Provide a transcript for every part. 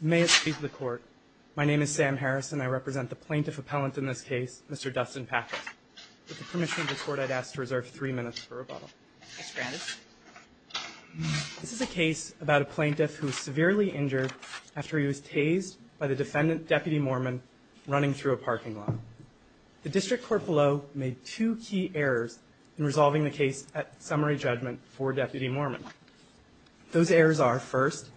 May it speak to the court. My name is Sam Harrison. I represent the plaintiff appellant in this case, Mr. Dustin Patrick. With the permission of the court, I'd ask to reserve three minutes for rebuttal. This is a case about a plaintiff who was severely injured after he was tased by the defendant, Deputy Moorman, running through a parking lot. The district court below made two key errors in resolving the case at summary judgment for Deputy Moorman. Those errors are, first,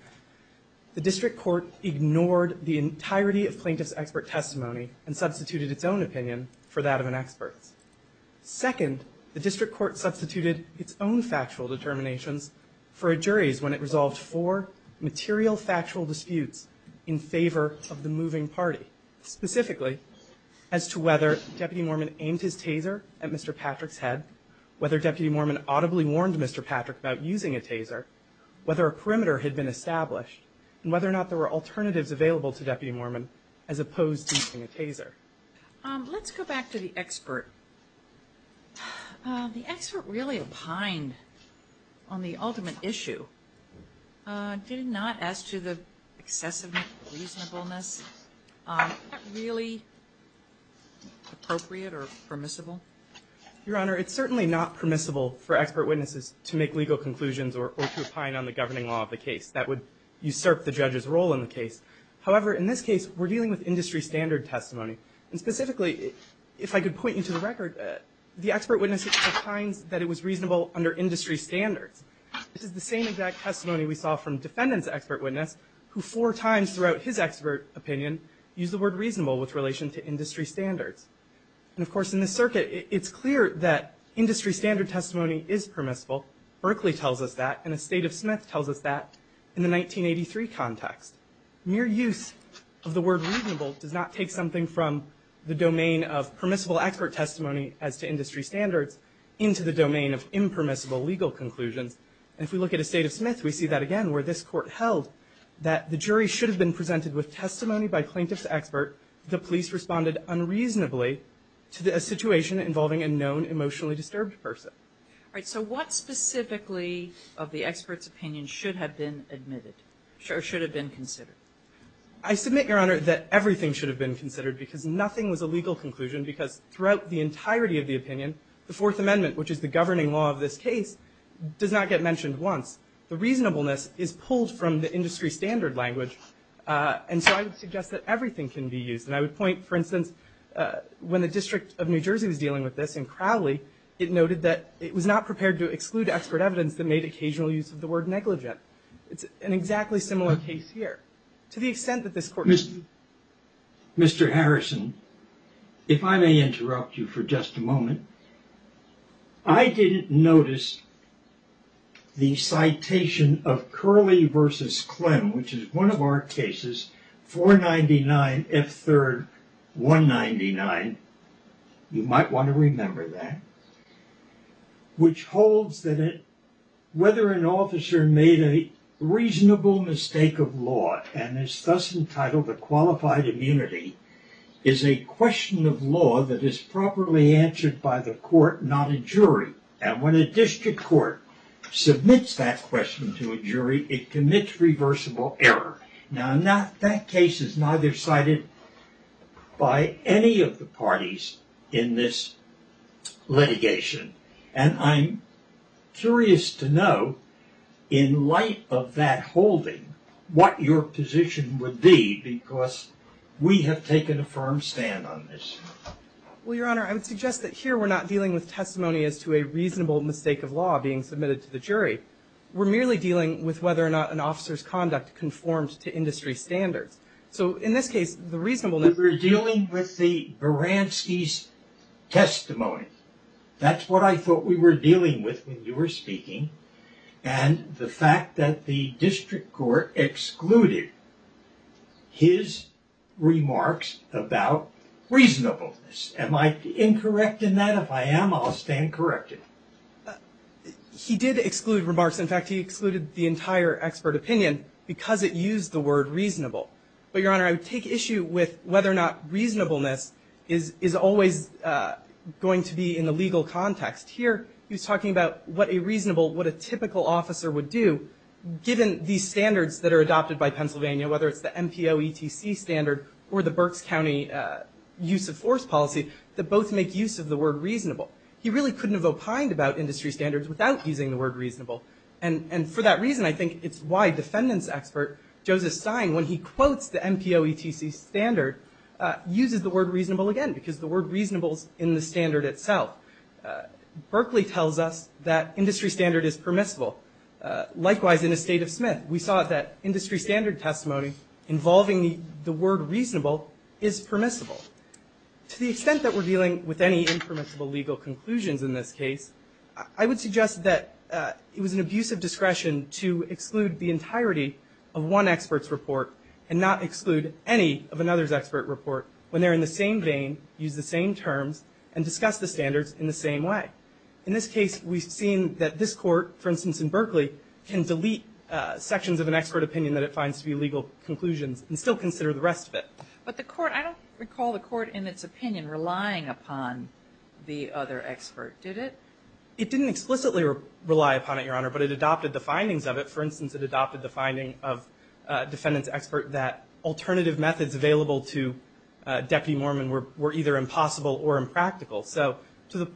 the district court ignored the entirety of plaintiff's expert testimony and substituted its own opinion for that of an expert's. Second, the district court substituted its own factual determinations for a jury's when it resolved four material factual disputes in favor of the moving party, specifically as to whether Deputy Moorman aimed his taser at Mr. Patrick's head, whether Deputy Moorman audibly warned Mr. Patrick about using a taser, whether a perimeter had been established, and whether or not there were alternatives available to Deputy Moorman as opposed to using a taser. Let's go back to the expert. The expert really opined on the ultimate issue. Did he not ask to the excessive reasonableness? Is that really appropriate or permissible? Your Honor, it's certainly not permissible for expert witnesses to make legal conclusions or to opine on the governing law of the case. That would usurp the judge's role in the case. However, in this case, we're dealing with industry standard testimony. And specifically, if I could point you to the record, the expert witness opines that it was reasonable under industry standards. This is the same exact testimony we saw from defendant's expert witness, who four times throughout his expert opinion used the word reasonable with relation to industry standards. And of course, in this circuit, it's clear that industry standard testimony is permissible. Berkeley tells us that, and a state of Smith tells us that in the 1983 context. Mere use of the word reasonable does not take something from the domain of permissible expert testimony as to industry standards into the domain of impermissible legal conclusions. And if we look at a state of Smith, we see that again, where this court held that the jury should have been presented with testimony by plaintiff's expert. The police responded unreasonably to a situation involving a known emotionally disturbed person. All right, so what specifically of the expert's opinion should have been admitted, or should have been considered? I submit, Your Honor, that everything should have been considered, because nothing was a legal conclusion. Because throughout the entirety of the opinion, the Fourth Amendment, which is the governing law of this case, does not get mentioned once. The reasonableness is pulled from the industry standard language. And so I would suggest that everything can be used. And I would point, for instance, when the District of New Jersey was dealing with this in Crowley, it noted that it was not prepared to exclude expert evidence that made occasional use of the word negligent. It's an exactly similar case here, to the extent that this court. Mr. Harrison, if I may interrupt you for just a moment. I didn't notice the citation of Crowley v. Clem, which is one of our cases, 499 F. 3rd 199. You might want to remember that. Which holds that whether an officer made a reasonable mistake of law, and is thus entitled to qualified immunity, is a question of law that is properly answered by the court, not a jury. And when a district court submits that question to a jury, it commits reversible error. Now, that case is neither cited by any of the parties in this litigation. And I'm curious to know, in light of that holding, what your position would be, because we have taken a firm stand on this. Well, Your Honor, I would suggest that here we're not dealing with testimony as to a reasonable mistake of law being submitted to the jury. We're merely dealing with whether or not an officer's conduct conformed to industry standards. So, in this case, the reasonableness... We're dealing with the Baranski's testimony. That's what I thought we were dealing with when you were speaking. And the fact that the district court excluded his remarks about reasonableness. Am I incorrect in that? If I am, I'll stand corrected. He did exclude remarks. In fact, he excluded the entire expert opinion because it used the word reasonable. But, Your Honor, I would take issue with whether or not reasonableness is always going to be in the legal context. Here, he was talking about what a reasonable, what a typical officer would do, given these standards that are adopted by Pennsylvania, whether it's the MPOETC standard or the Berks County use of force policy, that both make use of the word reasonable. He really couldn't have opined about industry standards without using the word reasonable. And for that reason, I think it's why defendant's expert, Joseph Stein, when he quotes the MPOETC standard, uses the word reasonable again, because the word reasonable is in the standard itself. Berkeley tells us that industry standard is permissible. Likewise, in the State of Smith, we saw that industry standard testimony involving the word reasonable is permissible. To the extent that we're dealing with any impermissible legal conclusions in this case, I would suggest that it was an abuse of discretion to exclude the entirety of one expert's report and not exclude any of another's expert report when they're in the same vein, use the same terms, and discuss the standards in the same way. In this case, we've seen that this court, for instance, in Berkeley, can delete sections of an expert opinion that it finds to be legal conclusions and still consider the rest of it. But the court, I don't recall the court in its opinion relying upon the other expert. Did it? It didn't explicitly rely upon it, Your Honor, but it adopted the findings of it. alternative methods available to Deputy Mormon were either impossible or impractical. So to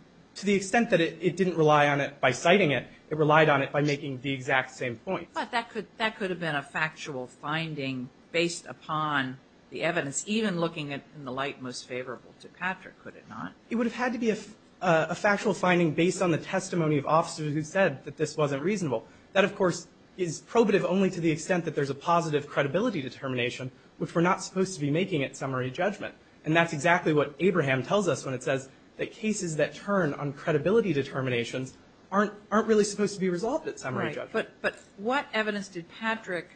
the extent that it didn't rely on it by citing it, it relied on it by making the exact same point. But that could have been a factual finding based upon the evidence, even looking in the light most favorable to Patrick, could it not? It would have had to be a factual finding based on the testimony of officers who said that this wasn't reasonable. That, of course, is probative only to the extent that there's a positive credibility determination, which we're not supposed to be making at summary judgment. And that's exactly what Abraham tells us when it says that cases that turn on credibility determinations aren't really supposed to be resolved at summary judgment. Right. But what evidence did Patrick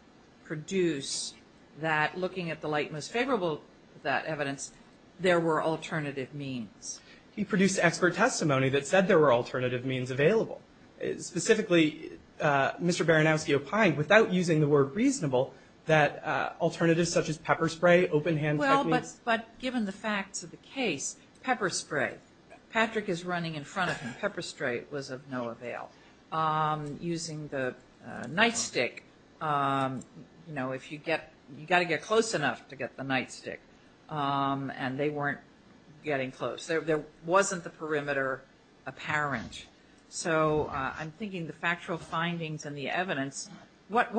produce that, looking at the light most favorable to that evidence, there were alternative means? He produced expert testimony that said there were alternative means available. Specifically, Mr. Baranowski opined, without using the word reasonable, that alternatives such as pepper spray, open-hand techniques Well, but given the facts of the case, pepper spray. Patrick is running in front of him. Pepper spray was of no avail. Using the nightstick, you know, if you get, you've got to get close enough to get the nightstick. And they weren't getting close. There wasn't the perimeter apparent. So I'm thinking the factual findings and the evidence, what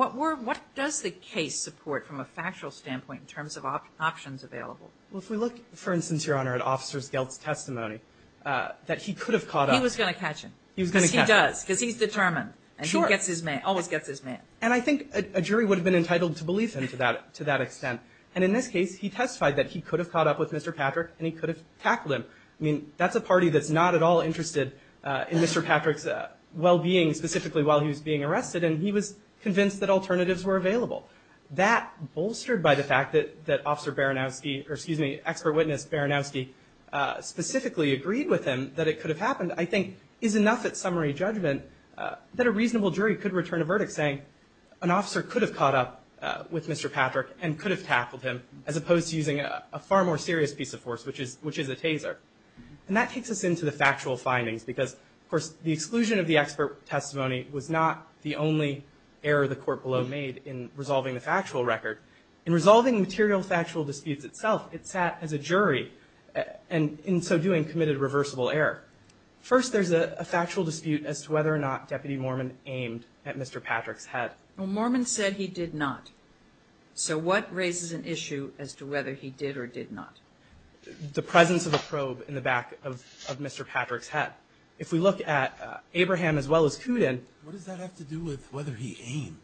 does the case support from a factual standpoint in terms of options available? Well, if we look, for instance, Your Honor, at Officer Geld's testimony, that he could have caught up. He was going to catch him. He was going to catch him. Because he does, because he's determined. Sure. And he gets his man, always gets his man. And I think a jury would have been entitled to believe him to that extent. And in this case, he testified that he could have caught up with Mr. Patrick and he could have tackled him. I mean, that's a party that's not at all interested in Mr. Patrick's well-being, specifically while he was being arrested. And he was convinced that alternatives were available. That, bolstered by the fact that Officer Baranowski, or excuse me, Expert Witness Baranowski specifically agreed with him that it could have happened, I think is enough at summary judgment that a reasonable jury could return a verdict saying, an officer could have caught up with Mr. Patrick and could have tackled him, as opposed to using a far more serious piece of force, which is a taser. And that takes us into the factual findings because, of course, the exclusion of the expert testimony was not the only error the court below made in resolving the factual record. In resolving material factual disputes itself, it sat as a jury, and in so doing, committed reversible error. First, there's a factual dispute as to whether or not Deputy Mormon aimed at Mr. Patrick's head. Well, Mormon said he did not. So what raises an issue as to whether he did or did not? The presence of a probe in the back of Mr. Patrick's head. If we look at Abraham as well as Kudin. What does that have to do with whether he aimed?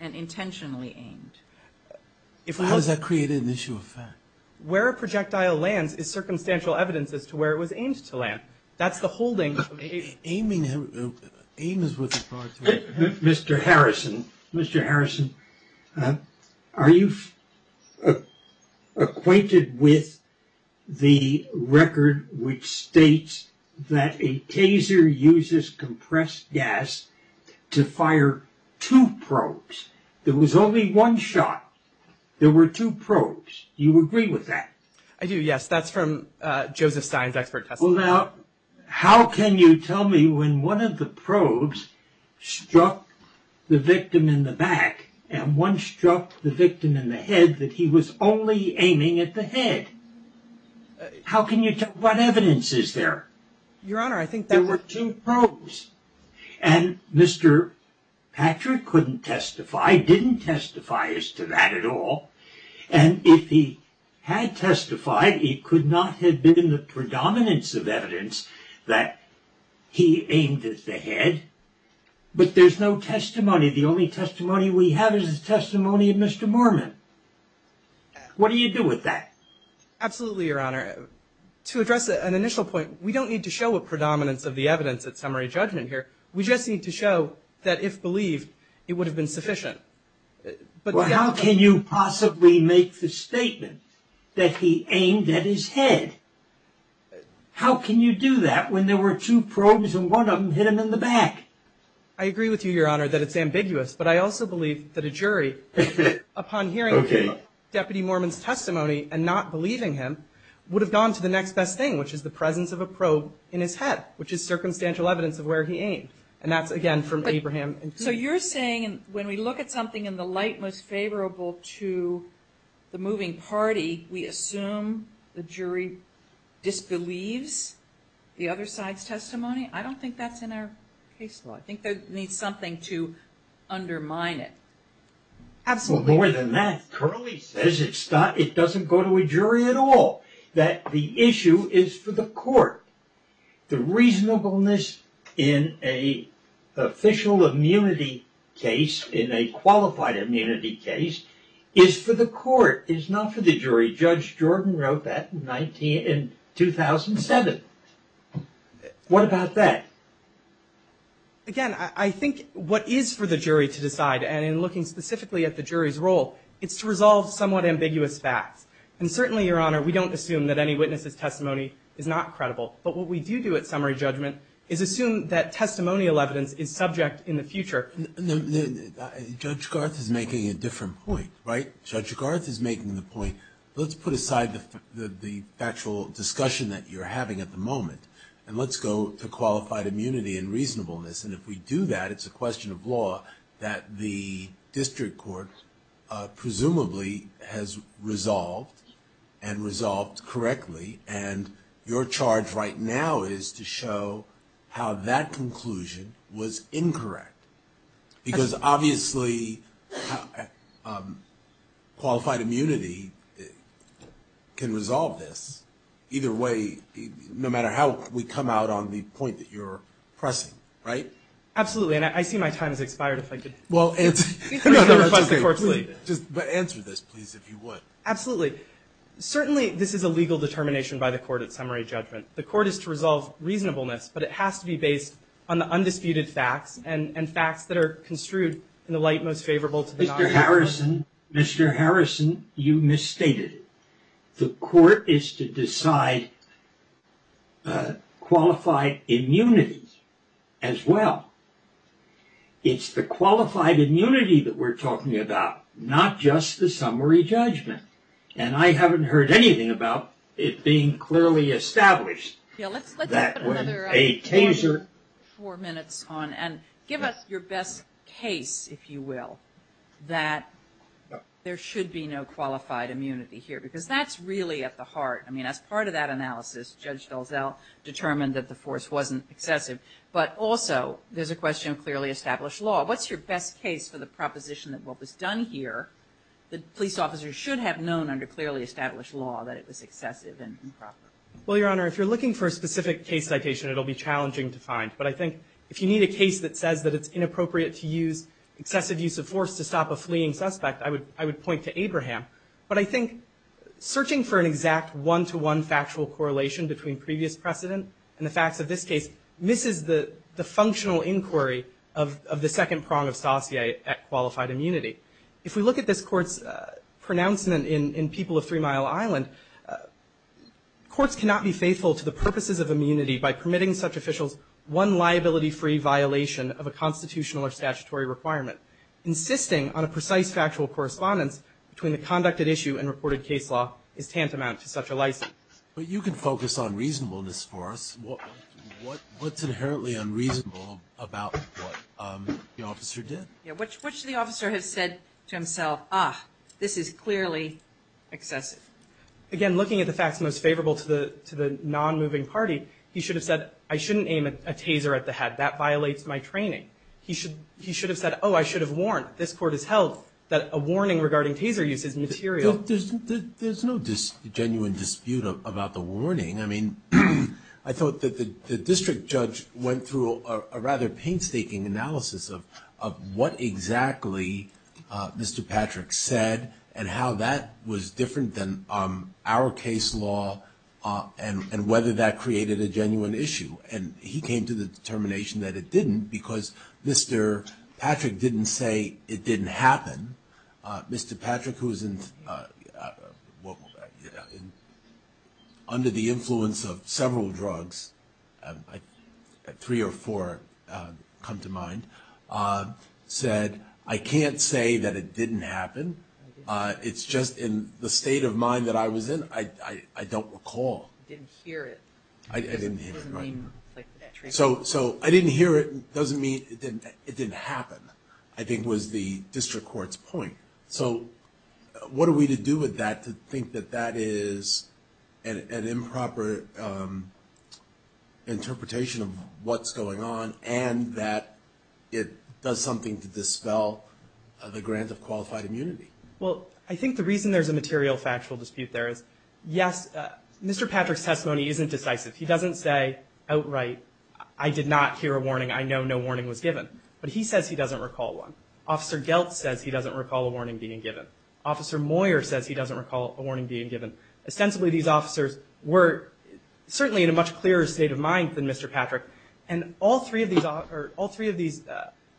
And intentionally aimed. How does that create an issue of fact? Where a projectile lands is circumstantial evidence as to where it was aimed to land. That's the holding of Abraham. Aim is with authority. Mr. Harrison, Mr. Harrison, are you acquainted with the record which states that a taser uses compressed gas to fire two probes? There was only one shot. There were two probes. Do you agree with that? I do, yes. That's from Joseph Stein's expert testimony. Well, now, how can you tell me when one of the probes struck the victim in the back and one struck the victim in the head that he was only aiming at the head? How can you tell? What evidence is there? Your Honor, I think there were two probes. And Mr. Patrick couldn't testify, didn't testify as to that at all. And if he had testified, it could not have been the predominance of evidence that he aimed at the head. But there's no testimony. The only testimony we have is the testimony of Mr. Mormon. What do you do with that? Absolutely, Your Honor. To address an initial point, we don't need to show a predominance of the evidence at summary judgment here. We just need to show that if believed, it would have been sufficient. Well, how can you possibly make the statement that he aimed at his head? How can you do that when there were two probes and one of them hit him in the back? I agree with you, Your Honor, that it's ambiguous. But I also believe that a jury, upon hearing Deputy Mormon's testimony and not believing him, would have gone to the next best thing, which is the presence of a probe in his head, which is circumstantial evidence of where he aimed. And that's, again, from Abraham. So you're saying when we look at something in the light most favorable to the moving party, we assume the jury disbelieves the other side's testimony? I don't think that's in our case law. I think there needs something to undermine it. Absolutely. Well, more than that, Curley says it doesn't go to a jury at all, that the issue is for the court. The reasonableness in an official immunity case, in a qualified immunity case, is for the court. It's not for the jury. Judge Jordan wrote that in 2007. What about that? Again, I think what is for the jury to decide, and in looking specifically at the jury's role, it's to resolve somewhat ambiguous facts. And certainly, Your Honor, we don't assume that any witness's testimony is not credible. But what we do do at summary judgment is assume that testimonial evidence is subject in the future. Judge Garth is making a different point, right? Judge Garth is making the point, let's put aside the factual discussion that you're having at the moment, and let's go to qualified immunity and reasonableness. And if we do that, it's a question of law that the district court presumably has resolved, and resolved correctly. And your charge right now is to show how that conclusion was incorrect. Because obviously, qualified immunity can resolve this. Either way, no matter how we come out on the point that you're pressing, right? Absolutely. And I see my time has expired, if I could. Answer this, please, if you would. Absolutely. Certainly, this is a legal determination by the court at summary judgment. The court is to resolve reasonableness, but it has to be based on the undisputed facts and facts that are construed in the light most favorable to the doctor. Mr. Harrison, you misstated. The court is to decide qualified immunity as well. It's the qualified immunity that we're talking about, not just the summary judgment. And I haven't heard anything about it being clearly established. Let's put another 24 minutes on. And give us your best case, if you will, that there should be no qualified immunity here. Because that's really at the heart. I mean, as part of that analysis, Judge DelZell determined that the force wasn't excessive. But also, there's a question of clearly established law. What's your best case for the proposition that what was done here, that police officers should have known under clearly established law that it was excessive and improper? Well, Your Honor, if you're looking for a specific case citation, it'll be challenging to find. But I think if you need a case that says that it's inappropriate to use excessive use of force to stop a fleeing suspect, I would point to Abraham. But I think searching for an exact one-to-one factual correlation between previous precedent and the facts of this case misses the functional inquiry of the second prong of saucier at qualified immunity. If we look at this Court's pronouncement in People of Three Mile Island, courts cannot be faithful to the purposes of immunity by permitting such officials one liability-free violation of a constitutional or statutory requirement. Insisting on a precise factual correspondence between the conducted issue and reported case law is tantamount to such a license. But you can focus on reasonableness for us. What's inherently unreasonable about what the officer did? Which the officer has said to himself, ah, this is clearly excessive. Again, looking at the facts most favorable to the non-moving party, he should have said, I shouldn't aim a taser at the head. That violates my training. He should have said, oh, I should have warned. This Court has held that a warning regarding taser use is material. There's no genuine dispute about the warning. I mean, I thought that the district judge went through a rather painstaking analysis of what exactly Mr. Patrick said and how that was different than our case law and whether that created a genuine issue. And he came to the determination that it didn't because Mr. Patrick didn't say it didn't happen. Mr. Patrick, who's under the influence of several drugs, three or four come to mind, said, I can't say that it didn't happen. It's just in the state of mind that I was in, I don't recall. Didn't hear it. I didn't hear it. So I didn't hear it doesn't mean it didn't happen, I think, was the district court's point. So what are we to do with that to think that that is an improper interpretation of what's going on and that it does something to dispel the grant of qualified immunity? Well, I think the reason there's a material factual dispute there is, yes, Mr. Patrick's testimony isn't decisive. He doesn't say outright, I did not hear a warning. I know no warning was given. But he says he doesn't recall one. Officer Gelt says he doesn't recall a warning being given. Officer Moyer says he doesn't recall a warning being given. Ostensibly, these officers were certainly in a much clearer state of mind than Mr. Patrick. And all three of these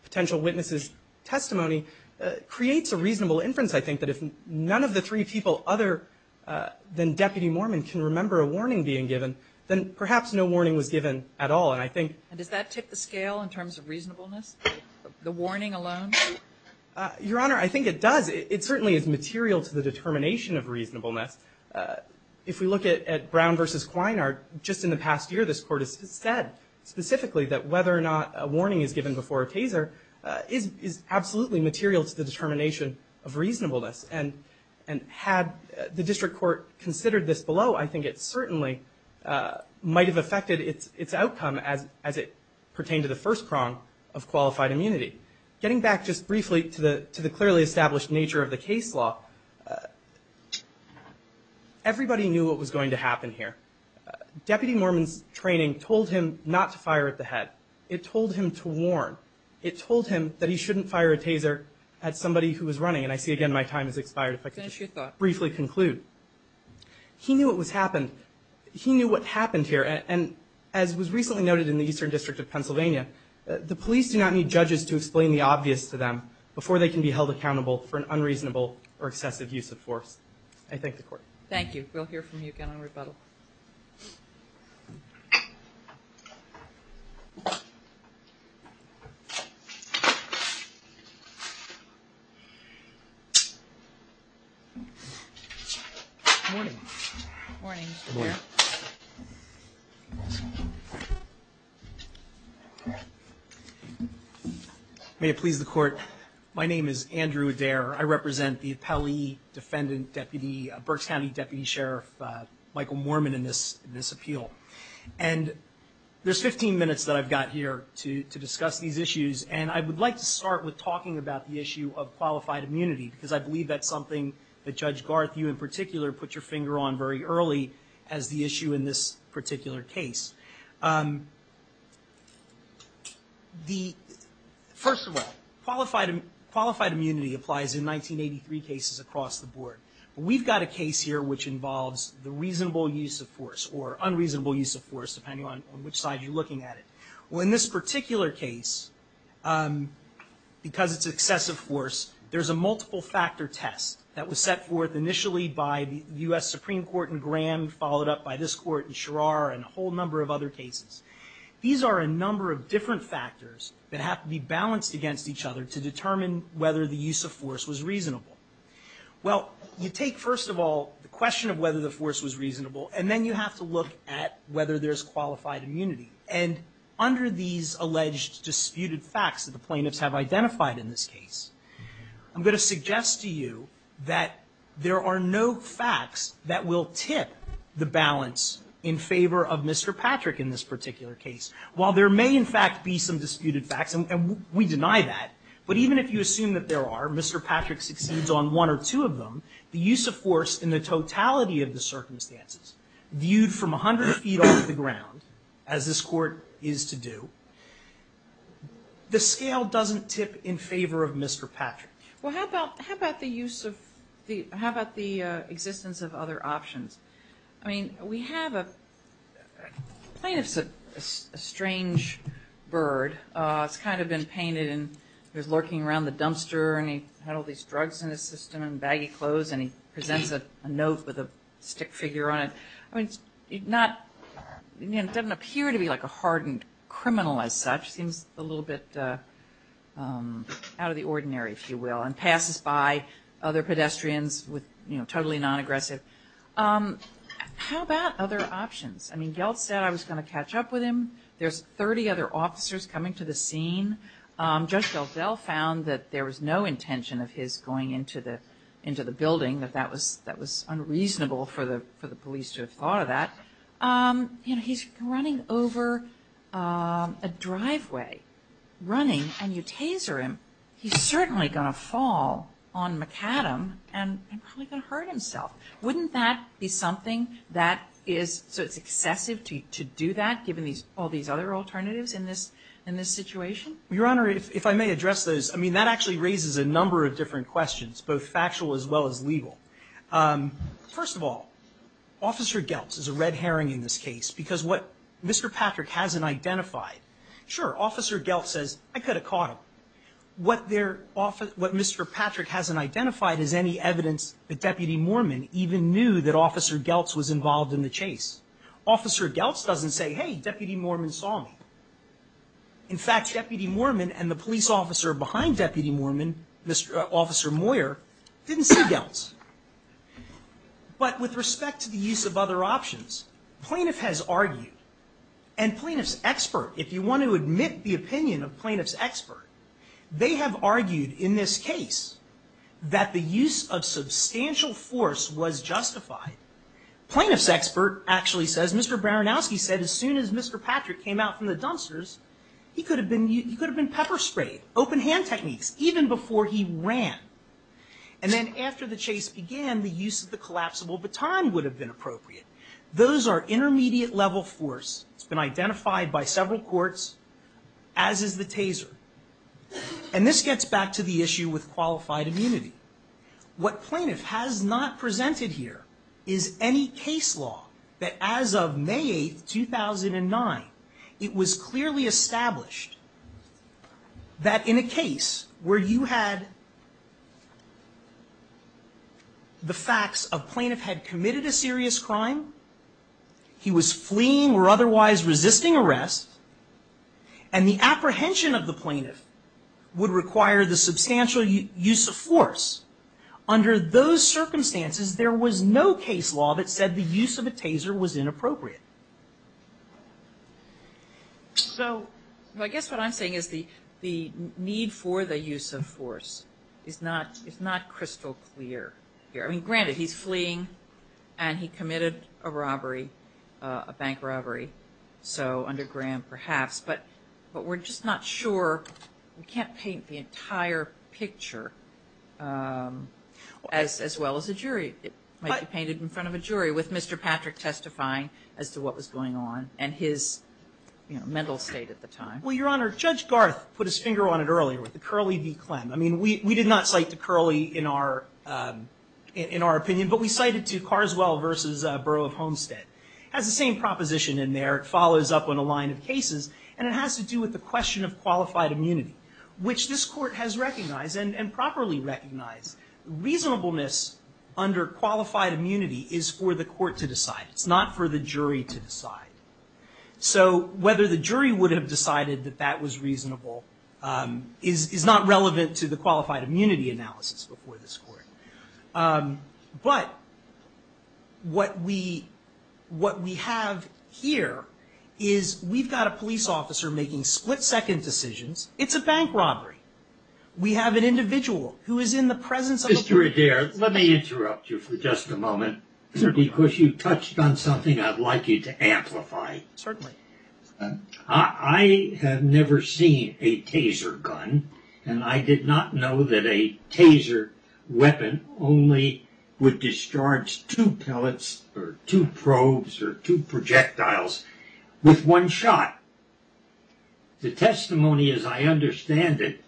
potential witnesses' testimony creates a reasonable inference, I think, that if none of the three people other than Deputy Mormon can remember a warning being given, then perhaps no warning was given at all. And does that tick the scale in terms of reasonableness, the warning alone? Your Honor, I think it does. It certainly is material to the determination of reasonableness. If we look at Brown v. Kwinert, just in the past year, this Court has said specifically that whether or not a warning is given before a taser is absolutely material to the determination of reasonableness. And had the district court considered this below, I think it certainly might have affected its outcome as it pertained to the first prong of qualified immunity. Getting back just briefly to the clearly established nature of the case law, everybody knew what was going to happen here. Deputy Mormon's training told him not to fire at the head. It told him to warn. It told him that he shouldn't fire a taser at somebody who was running. And I see again my time has expired, if I could just briefly conclude. Finish your thought. He knew what happened here. And as was recently noted in the Eastern District of Pennsylvania, the police do not need judges to explain the obvious to them before they can be held accountable for an unreasonable or excessive use of force. I thank the Court. We'll hear from you again on rebuttal. Good morning. Good morning. Good morning. May it please the Court, my name is Andrew Adair. I represent the appellee, defendant, deputy, Berks County Deputy Sheriff Michael Mormon in this appeal. And there's 15 minutes that I've got here to discuss these issues, and I would like to start with talking about the issue of qualified immunity because I believe that's something that Judge Garth, you in particular, put your finger on very early as the issue in this particular case. First of all, qualified immunity applies in 1983 cases across the board. We've got a case here which involves the reasonable use of force or unreasonable use of force, depending on which side you're looking at it. Well, in this particular case, because it's excessive force, there's a multiple-factor test that was set forth initially by the U.S. Supreme Court in Graham, followed up by this Court in Sherrar and a whole number of other cases. These are a number of different factors that have to be balanced against each other to determine whether the use of force was reasonable. Well, you take, first of all, the question of whether the force was reasonable, and then you have to look at whether there's qualified immunity. And under these alleged disputed facts that the plaintiffs have identified in this case, I'm going to suggest to you that there are no facts that will tip the balance in favor of Mr. Patrick in this particular case. While there may, in fact, be some disputed facts, and we deny that, but even if you assume that there are, Mr. Patrick succeeds on one or two of them, the use of force in the totality of the circumstances, viewed from 100 feet off the ground, as this Court is to do, the scale doesn't tip in favor of Mr. Patrick. Well, how about the use of, how about the existence of other options? I mean, we have a, the plaintiff's a strange bird. It's kind of been painted and he was lurking around the dumpster and he had all these drugs in his system and baggy clothes and he presents a note with a stick figure on it. I mean, it's not, it doesn't appear to be like a hardened criminal as such. It seems a little bit out of the ordinary, if you will, and passes by other pedestrians with, you know, totally non-aggressive. How about other options? I mean, Geltz said I was going to catch up with him. There's 30 other officers coming to the scene. Judge Geltz found that there was no intention of his going into the building, that that was unreasonable for the police to have thought of that. You know, he's running over a driveway, running, and you taser him, he's certainly going to fall on McAdam and probably going to hurt himself. Wouldn't that be something that is, so it's excessive to do that, given all these other alternatives in this situation? Your Honor, if I may address those, I mean, that actually raises a number of different questions, both factual as well as legal. First of all, Officer Geltz is a red herring in this case because what Mr. Patrick hasn't identified, sure, Officer Geltz says, I could have caught him. What Mr. Patrick hasn't identified is any evidence that Deputy Moorman even knew that Officer Geltz was involved in the chase. Officer Geltz doesn't say, hey, Deputy Moorman saw me. In fact, Deputy Moorman and the police officer behind Deputy Moorman, Officer Moyer, didn't see Geltz. But with respect to the use of other options, plaintiff has argued, and plaintiff's expert, if you want to admit the opinion of plaintiff's expert, they have argued in this case that the use of substantial force was justified. Plaintiff's expert actually says, Mr. Baranowski said as soon as Mr. Patrick came out from the dumpsters, he could have been pepper sprayed, open hand techniques, even before he ran. And then after the chase began, the use of the collapsible baton would have been appropriate. Those are intermediate level force. It's been identified by several courts, as is the taser. And this gets back to the issue with qualified immunity. What plaintiff has not presented here is any case law that as of May 8, 2009, it was clearly established that in a case where you had the facts of plaintiff had committed a serious crime, he was fleeing or otherwise resisting arrest, and the apprehension of the plaintiff would require the substantial use of force. Under those circumstances, there was no case law that said the use of a taser was inappropriate. So I guess what I'm saying is the need for the use of force is not crystal clear here. Granted, he's fleeing and he committed a robbery, a bank robbery, so under Graham perhaps, but we're just not sure. We can't paint the entire picture as well as a jury. It might be painted in front of a jury, with Mr. Patrick testifying as to what was going on and his mental state at the time. Well, Your Honor, Judge Garth put his finger on it earlier with the Curley v. Clem. I mean, we did not cite to Curley in our opinion, but we cited to Carswell v. Borough of Homestead. It has the same proposition in there. It follows up on a line of cases, and it has to do with the question of qualified immunity, which this court has recognized and properly recognized. Reasonableness under qualified immunity is for the court to decide. It's not for the jury to decide. So whether the jury would have decided that that was reasonable is not relevant to the qualified immunity analysis before this court. But what we have here is we've got a police officer making split-second decisions. It's a bank robbery. We have an individual who is in the presence of a police officer. Mr. Adair, let me interrupt you for just a moment. Certainly. Because you touched on something I'd like you to amplify. Certainly. I have never seen a Taser gun, and I did not know that a Taser weapon only would discharge two pellets or two probes or two projectiles with one shot. The testimony, as I understand it,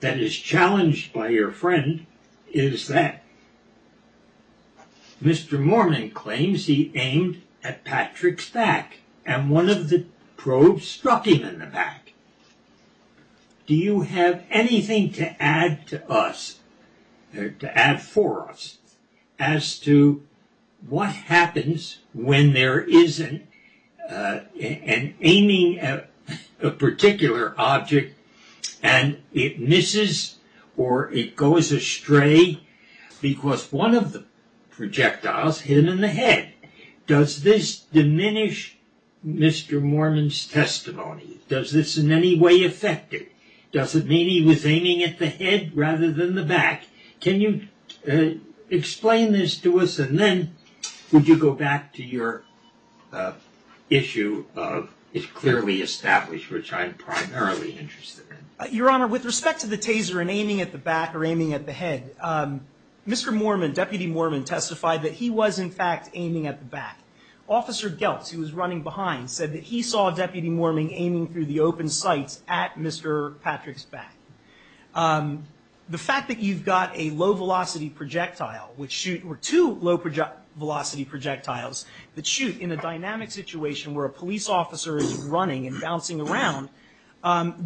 that is challenged by your friend is that Mr. Mormon claims he aimed at Patrick's back, and one of the probes struck him in the back. Do you have anything to add to us, to add for us, as to what happens when there is an aiming at a particular object and it misses or it goes astray because one of the projectiles hit him in the head? Does this diminish Mr. Mormon's testimony? Does this in any way affect it? Does it mean he was aiming at the head rather than the back? Can you explain this to us, and then would you go back to your issue of it's clearly established, which I'm primarily interested in? Your Honor, with respect to the Taser and aiming at the back or aiming at the head, Mr. Mormon, Deputy Mormon, testified that he was, in fact, aiming at the back. Officer Geltz, who was running behind, said that he saw Deputy Mormon aiming through the open sights at Mr. Patrick's back. The fact that you've got a low-velocity projectile, or two low-velocity projectiles that shoot in a dynamic situation where a police officer is running and bouncing around,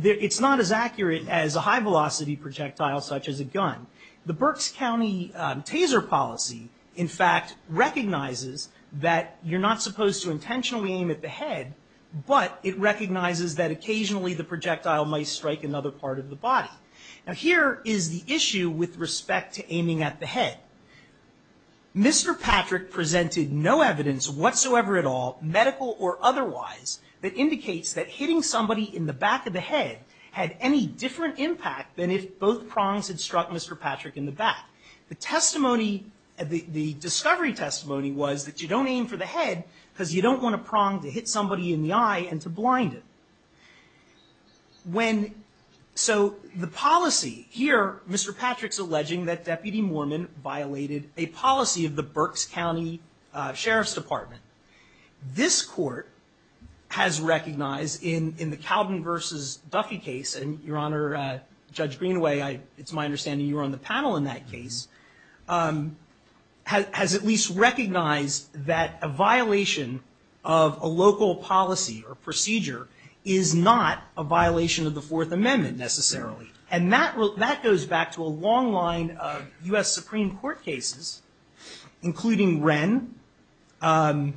it's not as accurate as a high-velocity projectile such as a gun. The Berks County Taser policy, in fact, recognizes that you're not supposed to intentionally aim at the head, but it recognizes that occasionally the projectile might strike another part of the body. Now, here is the issue with respect to aiming at the head. Mr. Patrick presented no evidence whatsoever at all, medical or otherwise, that indicates that hitting somebody in the back of the head had any different impact than if both prongs had struck Mr. Patrick in the back. The testimony, the discovery testimony, was that you don't aim for the head because you don't want a prong to hit somebody in the eye and to blind it. When... So the policy, here Mr. Patrick's alleging that Deputy Mormon violated a policy of the Berks County Sheriff's Department. This court has recognized in the Calvin v. Duffy case, and, Your Honor, Judge Greenaway, it's my understanding you were on the panel in that case, has at least recognized that a violation of a local policy or procedure is not a violation of the Fourth Amendment necessarily. And that goes back to a long line of U.S. Supreme Court cases, including Wren v.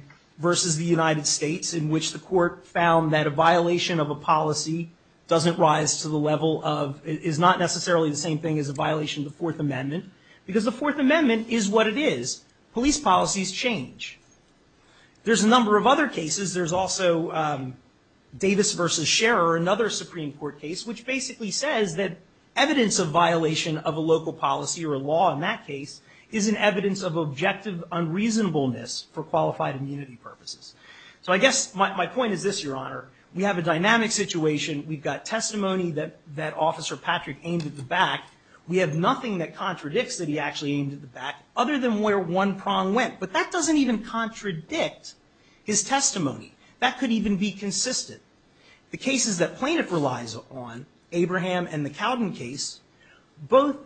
the United States, in which the court found that a violation of a policy doesn't rise to the level of... is not necessarily the same thing as a violation of the Fourth Amendment, because the Fourth Amendment is what it is. Police policies change. There's a number of other cases. There's also Davis v. Scherer, another Supreme Court case, which basically says that evidence of violation of a local policy or law in that case is an evidence of objective unreasonableness for qualified immunity purposes. So I guess my point is this, Your Honor. We have a dynamic situation. We've got testimony that Officer Patrick aimed at the back. We have nothing that contradicts that he actually aimed at the back other than where one prong went. But that doesn't even contradict his testimony. That could even be consistent. The cases that plaintiff relies on, Abraham and the Cowden case,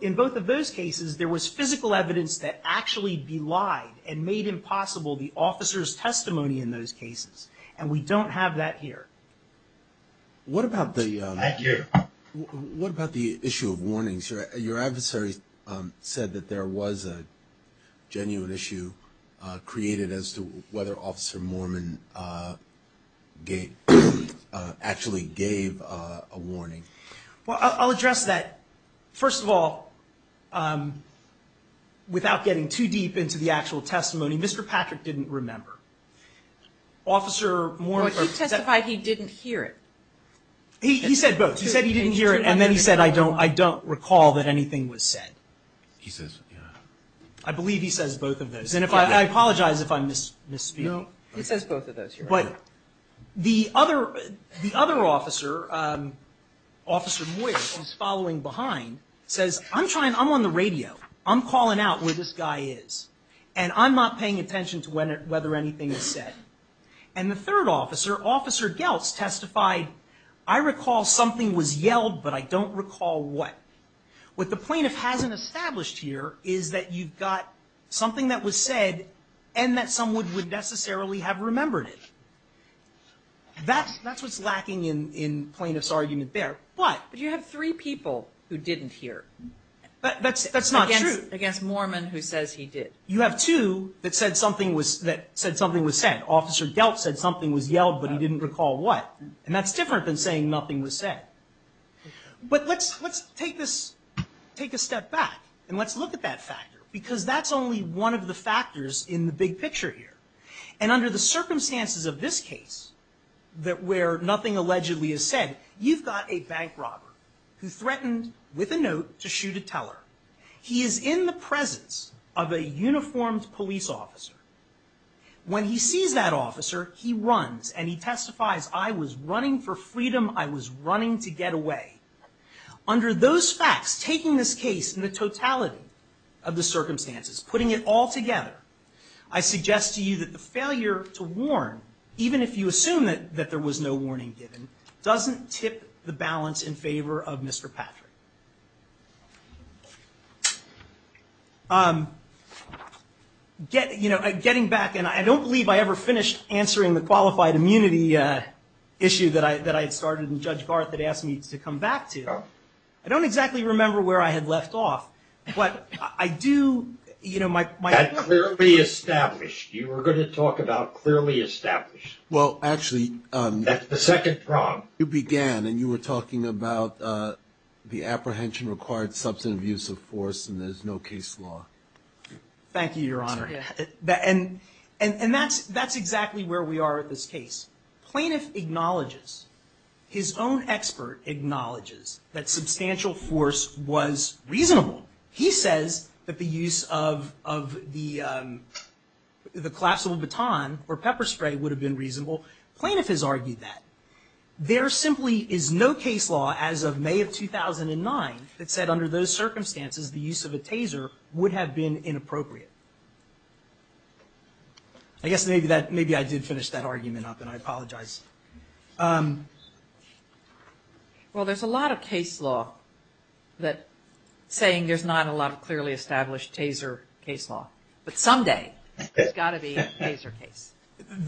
in both of those cases there was physical evidence that actually belied and made impossible the officer's testimony in those cases. And we don't have that here. What about the... Thank you. What about the issue of warnings? Your adversary said that there was a genuine issue created as to whether Officer Mormon actually gave a warning. Well, I'll address that. First of all, without getting too deep into the actual testimony, Mr. Patrick didn't remember. He testified he didn't hear it. He said both. He said he didn't hear it, and then he said, I don't recall that anything was said. He says, yeah. I believe he says both of those. And I apologize if I misspeak. He says both of those. But the other officer, Officer Moyers, who's following behind, says, I'm on the radio. I'm calling out where this guy is, and I'm not paying attention to whether anything is said. And the third officer, Officer Geltz, testified, I recall something was yelled, but I don't recall what. What the plaintiff hasn't established here is that you've got something that was said and that someone would necessarily have remembered it. That's what's lacking in plaintiff's argument there. But you have three people who didn't hear. That's not true. Against Mormon, who says he did. You have two that said something was said. Officer Geltz said something was yelled, but he didn't recall what. And that's different than saying nothing was said. But let's take this, take a step back, and let's look at that factor, because that's only one of the factors in the big picture here. And under the circumstances of this case, where nothing allegedly is said, you've got a bank robber who threatened with a note to shoot a teller. He is in the presence of a uniformed police officer. When he sees that officer, he runs and he testifies, I was running for freedom, I was running to get away. Under those facts, taking this case in the totality of the circumstances, putting it all together, I suggest to you that the failure to warn, even if you assume that there was no warning given, doesn't tip the balance in favor of Mr. Patrick. Getting back, and I don't believe I ever finished answering the qualified immunity issue that I had started and Judge Garth had asked me to come back to. I don't exactly remember where I had left off. But I do, you know, my... That clearly established. You were going to talk about clearly established. Well, actually... You began and you were talking about the actual issue. The apprehension required substantive use of force and there's no case law. Thank you, Your Honor. And that's exactly where we are at this case. Plaintiff acknowledges, his own expert acknowledges, that substantial force was reasonable. He says that the use of the collapsible baton or pepper spray would have been reasonable. Plaintiff has argued that. There simply is no case law as of May of 2009 that said under those circumstances the use of a taser would have been inappropriate. I guess maybe I did finish that argument up and I apologize. Well, there's a lot of case law that... saying there's not a lot of clearly established taser case law. But someday, there's got to be a taser case.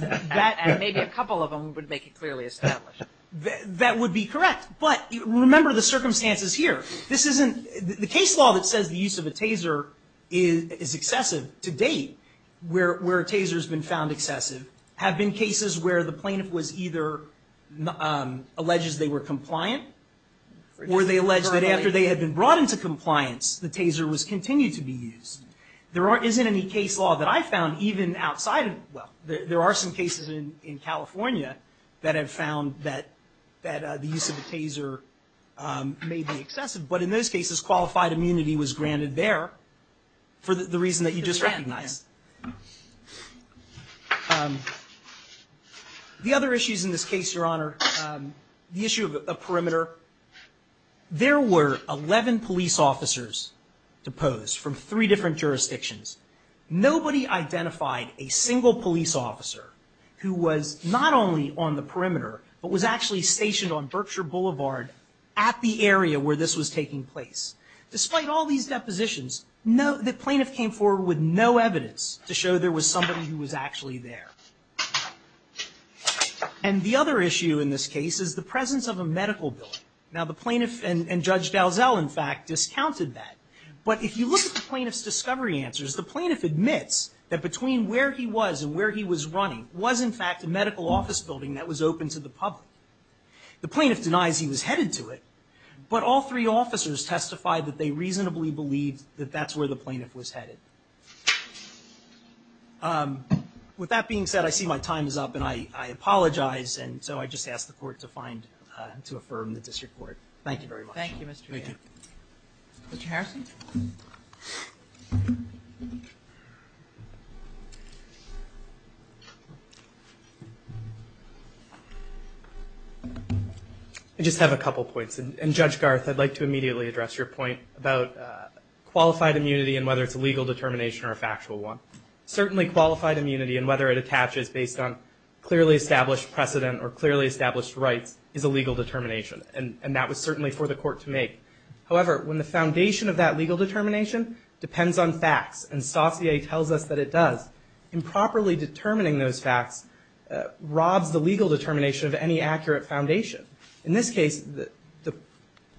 And maybe a couple of them would make it clearly established. That would be correct. But remember the circumstances here. This isn't... The case law that says the use of a taser is excessive to date, where a taser has been found excessive, have been cases where the plaintiff was either... alleges they were compliant or they allege that after they had been brought into compliance, the taser was continued to be used. There isn't any case law that I found even outside of... Well, there are some cases in California that have found that the use of a taser may be excessive. But in those cases, qualified immunity was granted there for the reason that you just recognized. The other issues in this case, Your Honor, the issue of a perimeter. There were 11 police officers deposed from three different jurisdictions. Nobody identified a single police officer who was not only on the perimeter, but was actually stationed on Berkshire Boulevard at the area where this was taking place. Despite all these depositions, the plaintiff came forward with no evidence to show there was somebody who was actually there. And the other issue in this case is the presence of a medical bill. Now, the plaintiff and Judge Dalzell, in fact, discounted that. But if you look at the plaintiff's discovery answers, the plaintiff admits that between where he was and where he was running was, in fact, a medical office building that was open to the public. The plaintiff denies he was headed to it, but all three officers testified that they reasonably believed that that's where the plaintiff was headed. With that being said, I see my time is up and I apologize, and so I just ask the court to find and to affirm the disreport. Thank you very much. Thank you, Mr. Jay. Thank you. Mr. Harrison? I just have a couple points. And, Judge Garth, I'd like to immediately address your point about qualified immunity and whether it's a legal determination or a factual one. Certainly qualified immunity and whether it attaches based on clearly established precedent or clearly established rights is a legal determination, and that was certainly for the court to make. However, when the foundation of that legal determination depends on facts, and Saussure tells us that it does, improperly determining those facts robs the legal determination of any accurate foundation. In this case, the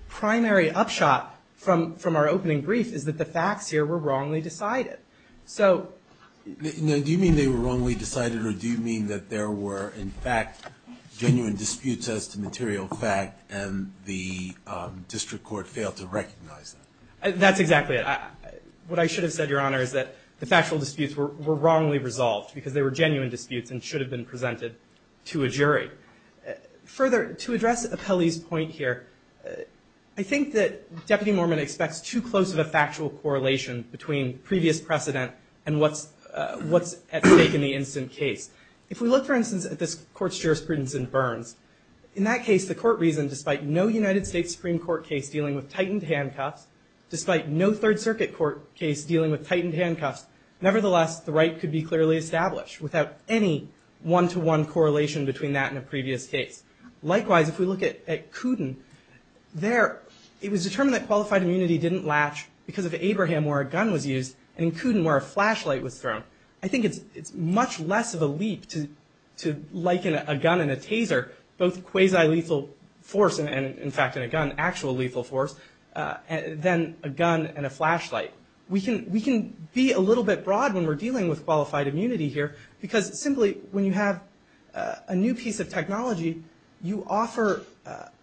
primary upshot from our opening brief is that the facts here were wrongly decided. Now, do you mean they were wrongly decided, or do you mean that there were, in fact, genuine disputes as to material fact and the district court failed to recognize that? That's exactly it. What I should have said, Your Honor, is that the factual disputes were wrongly resolved because they were genuine disputes and should have been presented to a jury. Further, to address Apelli's point here, I think that Deputy Mormon expects too close of a factual correlation between previous precedent and what's at stake in the instant case. If we look, for instance, at this court's jurisprudence in Burns, in that case, the court reasoned, despite no United States Supreme Court case dealing with tightened handcuffs, despite no Third Circuit court case dealing with tightened handcuffs, nevertheless, the right could be clearly established without any one-to-one correlation between that and a previous case. Likewise, if we look at Kooten, there it was determined that qualified immunity didn't latch because of Abraham, where a gun was used, and in Kooten, where a flashlight was thrown. I think it's much less of a leap to liken a gun and a taser, both quasi-lethal force and, in fact, in a gun, actual lethal force, than a gun and a flashlight. We can be a little bit broad when we're dealing with qualified immunity here because, simply, when you have a new piece of technology, you offer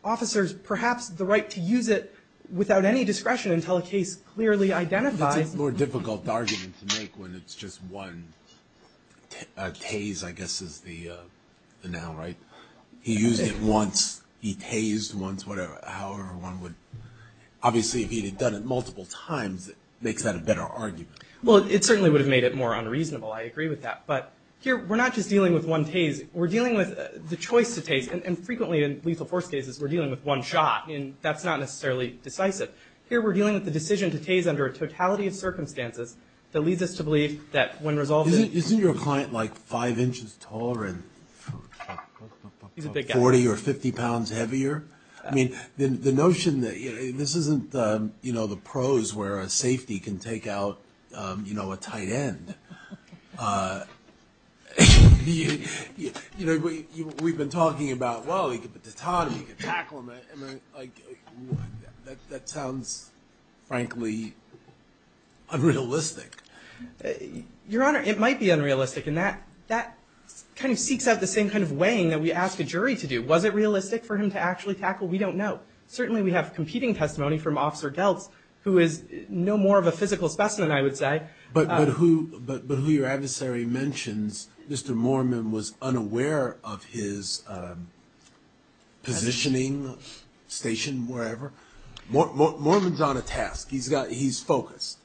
officers, perhaps, the right to use it It's a more difficult argument to make when it's just one. A tase, I guess, is the noun, right? He used it once, he tased once, whatever. Obviously, if he had done it multiple times, it makes that a better argument. Well, it certainly would have made it more unreasonable. I agree with that. But here, we're not just dealing with one tase. We're dealing with the choice to tase, and frequently in lethal force cases, we're dealing with one shot, and that's not necessarily decisive. Here, we're dealing with the decision to tase under a totality of circumstances that leads us to believe that when resolved... Isn't your client, like, five inches taller and... He's a big guy. ...40 or 50 pounds heavier? I mean, the notion that, you know, this isn't, you know, the prose where a safety can take out, you know, a tight end. You know, we've been talking about, well, you could put the tot on him, you could tackle him. That sounds, frankly, unrealistic. Your Honor, it might be unrealistic, and that kind of seeks out the same kind of weighing that we ask a jury to do. Was it realistic for him to actually tackle? We don't know. Certainly, we have competing testimony from Officer Delz, who is no more of a physical specimen, I would say. But who your adversary mentions, Mr. Mormon was unaware of his positioning, station, wherever. Mormon's on a task. He's focused.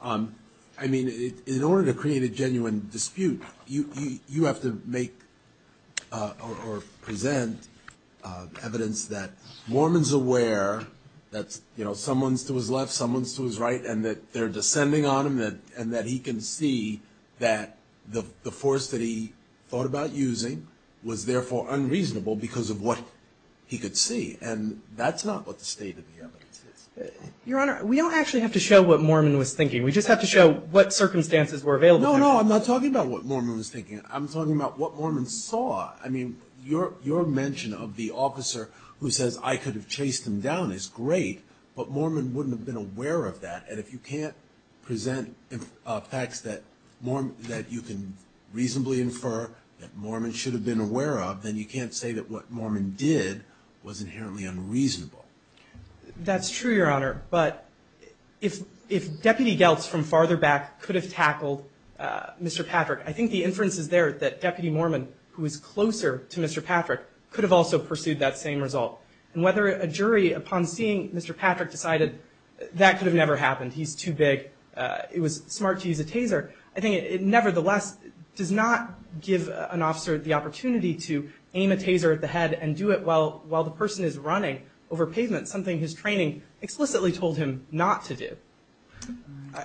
I mean, in order to create a genuine dispute, you have to make or present evidence that Mormon's aware that, you know, someone's to his left, someone's to his right, and that they're descending on him, and that he can see that the force that he thought about using was therefore unreasonable because of what he could see. And that's not what the state of the evidence is. Your Honor, we don't actually have to show what Mormon was thinking. We just have to show what circumstances were available. No, no, I'm not talking about what Mormon was thinking. I'm talking about what Mormon saw. I mean, your mention of the officer who says, I could have chased him down is great, but Mormon wouldn't have been aware of that. And if you can't present facts that you can reasonably infer that Mormon should have been aware of, then you can't say that what Mormon did was inherently unreasonable. That's true, Your Honor. But if Deputy Geltz from farther back could have tackled Mr. Patrick, I think the inference is there that Deputy Mormon, who is closer to Mr. Patrick, could have also pursued that same result. And whether a jury, upon seeing Mr. Patrick, decided that could have never happened, he's too big, it was smart to use a taser, I think it nevertheless does not give an officer the opportunity to aim a taser at the head and do it while the person is running over pavement, something his training explicitly told him not to do.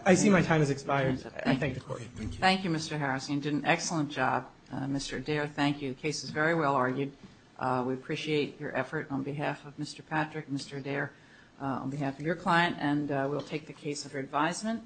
I see my time has expired. I thank the Court. Thank you, Mr. Harrison. You did an excellent job, Mr. Adair. Thank you. The case is very well argued. We appreciate your effort on behalf of Mr. Patrick, Mr. Adair, on behalf of your client, and we'll take the case under advisement.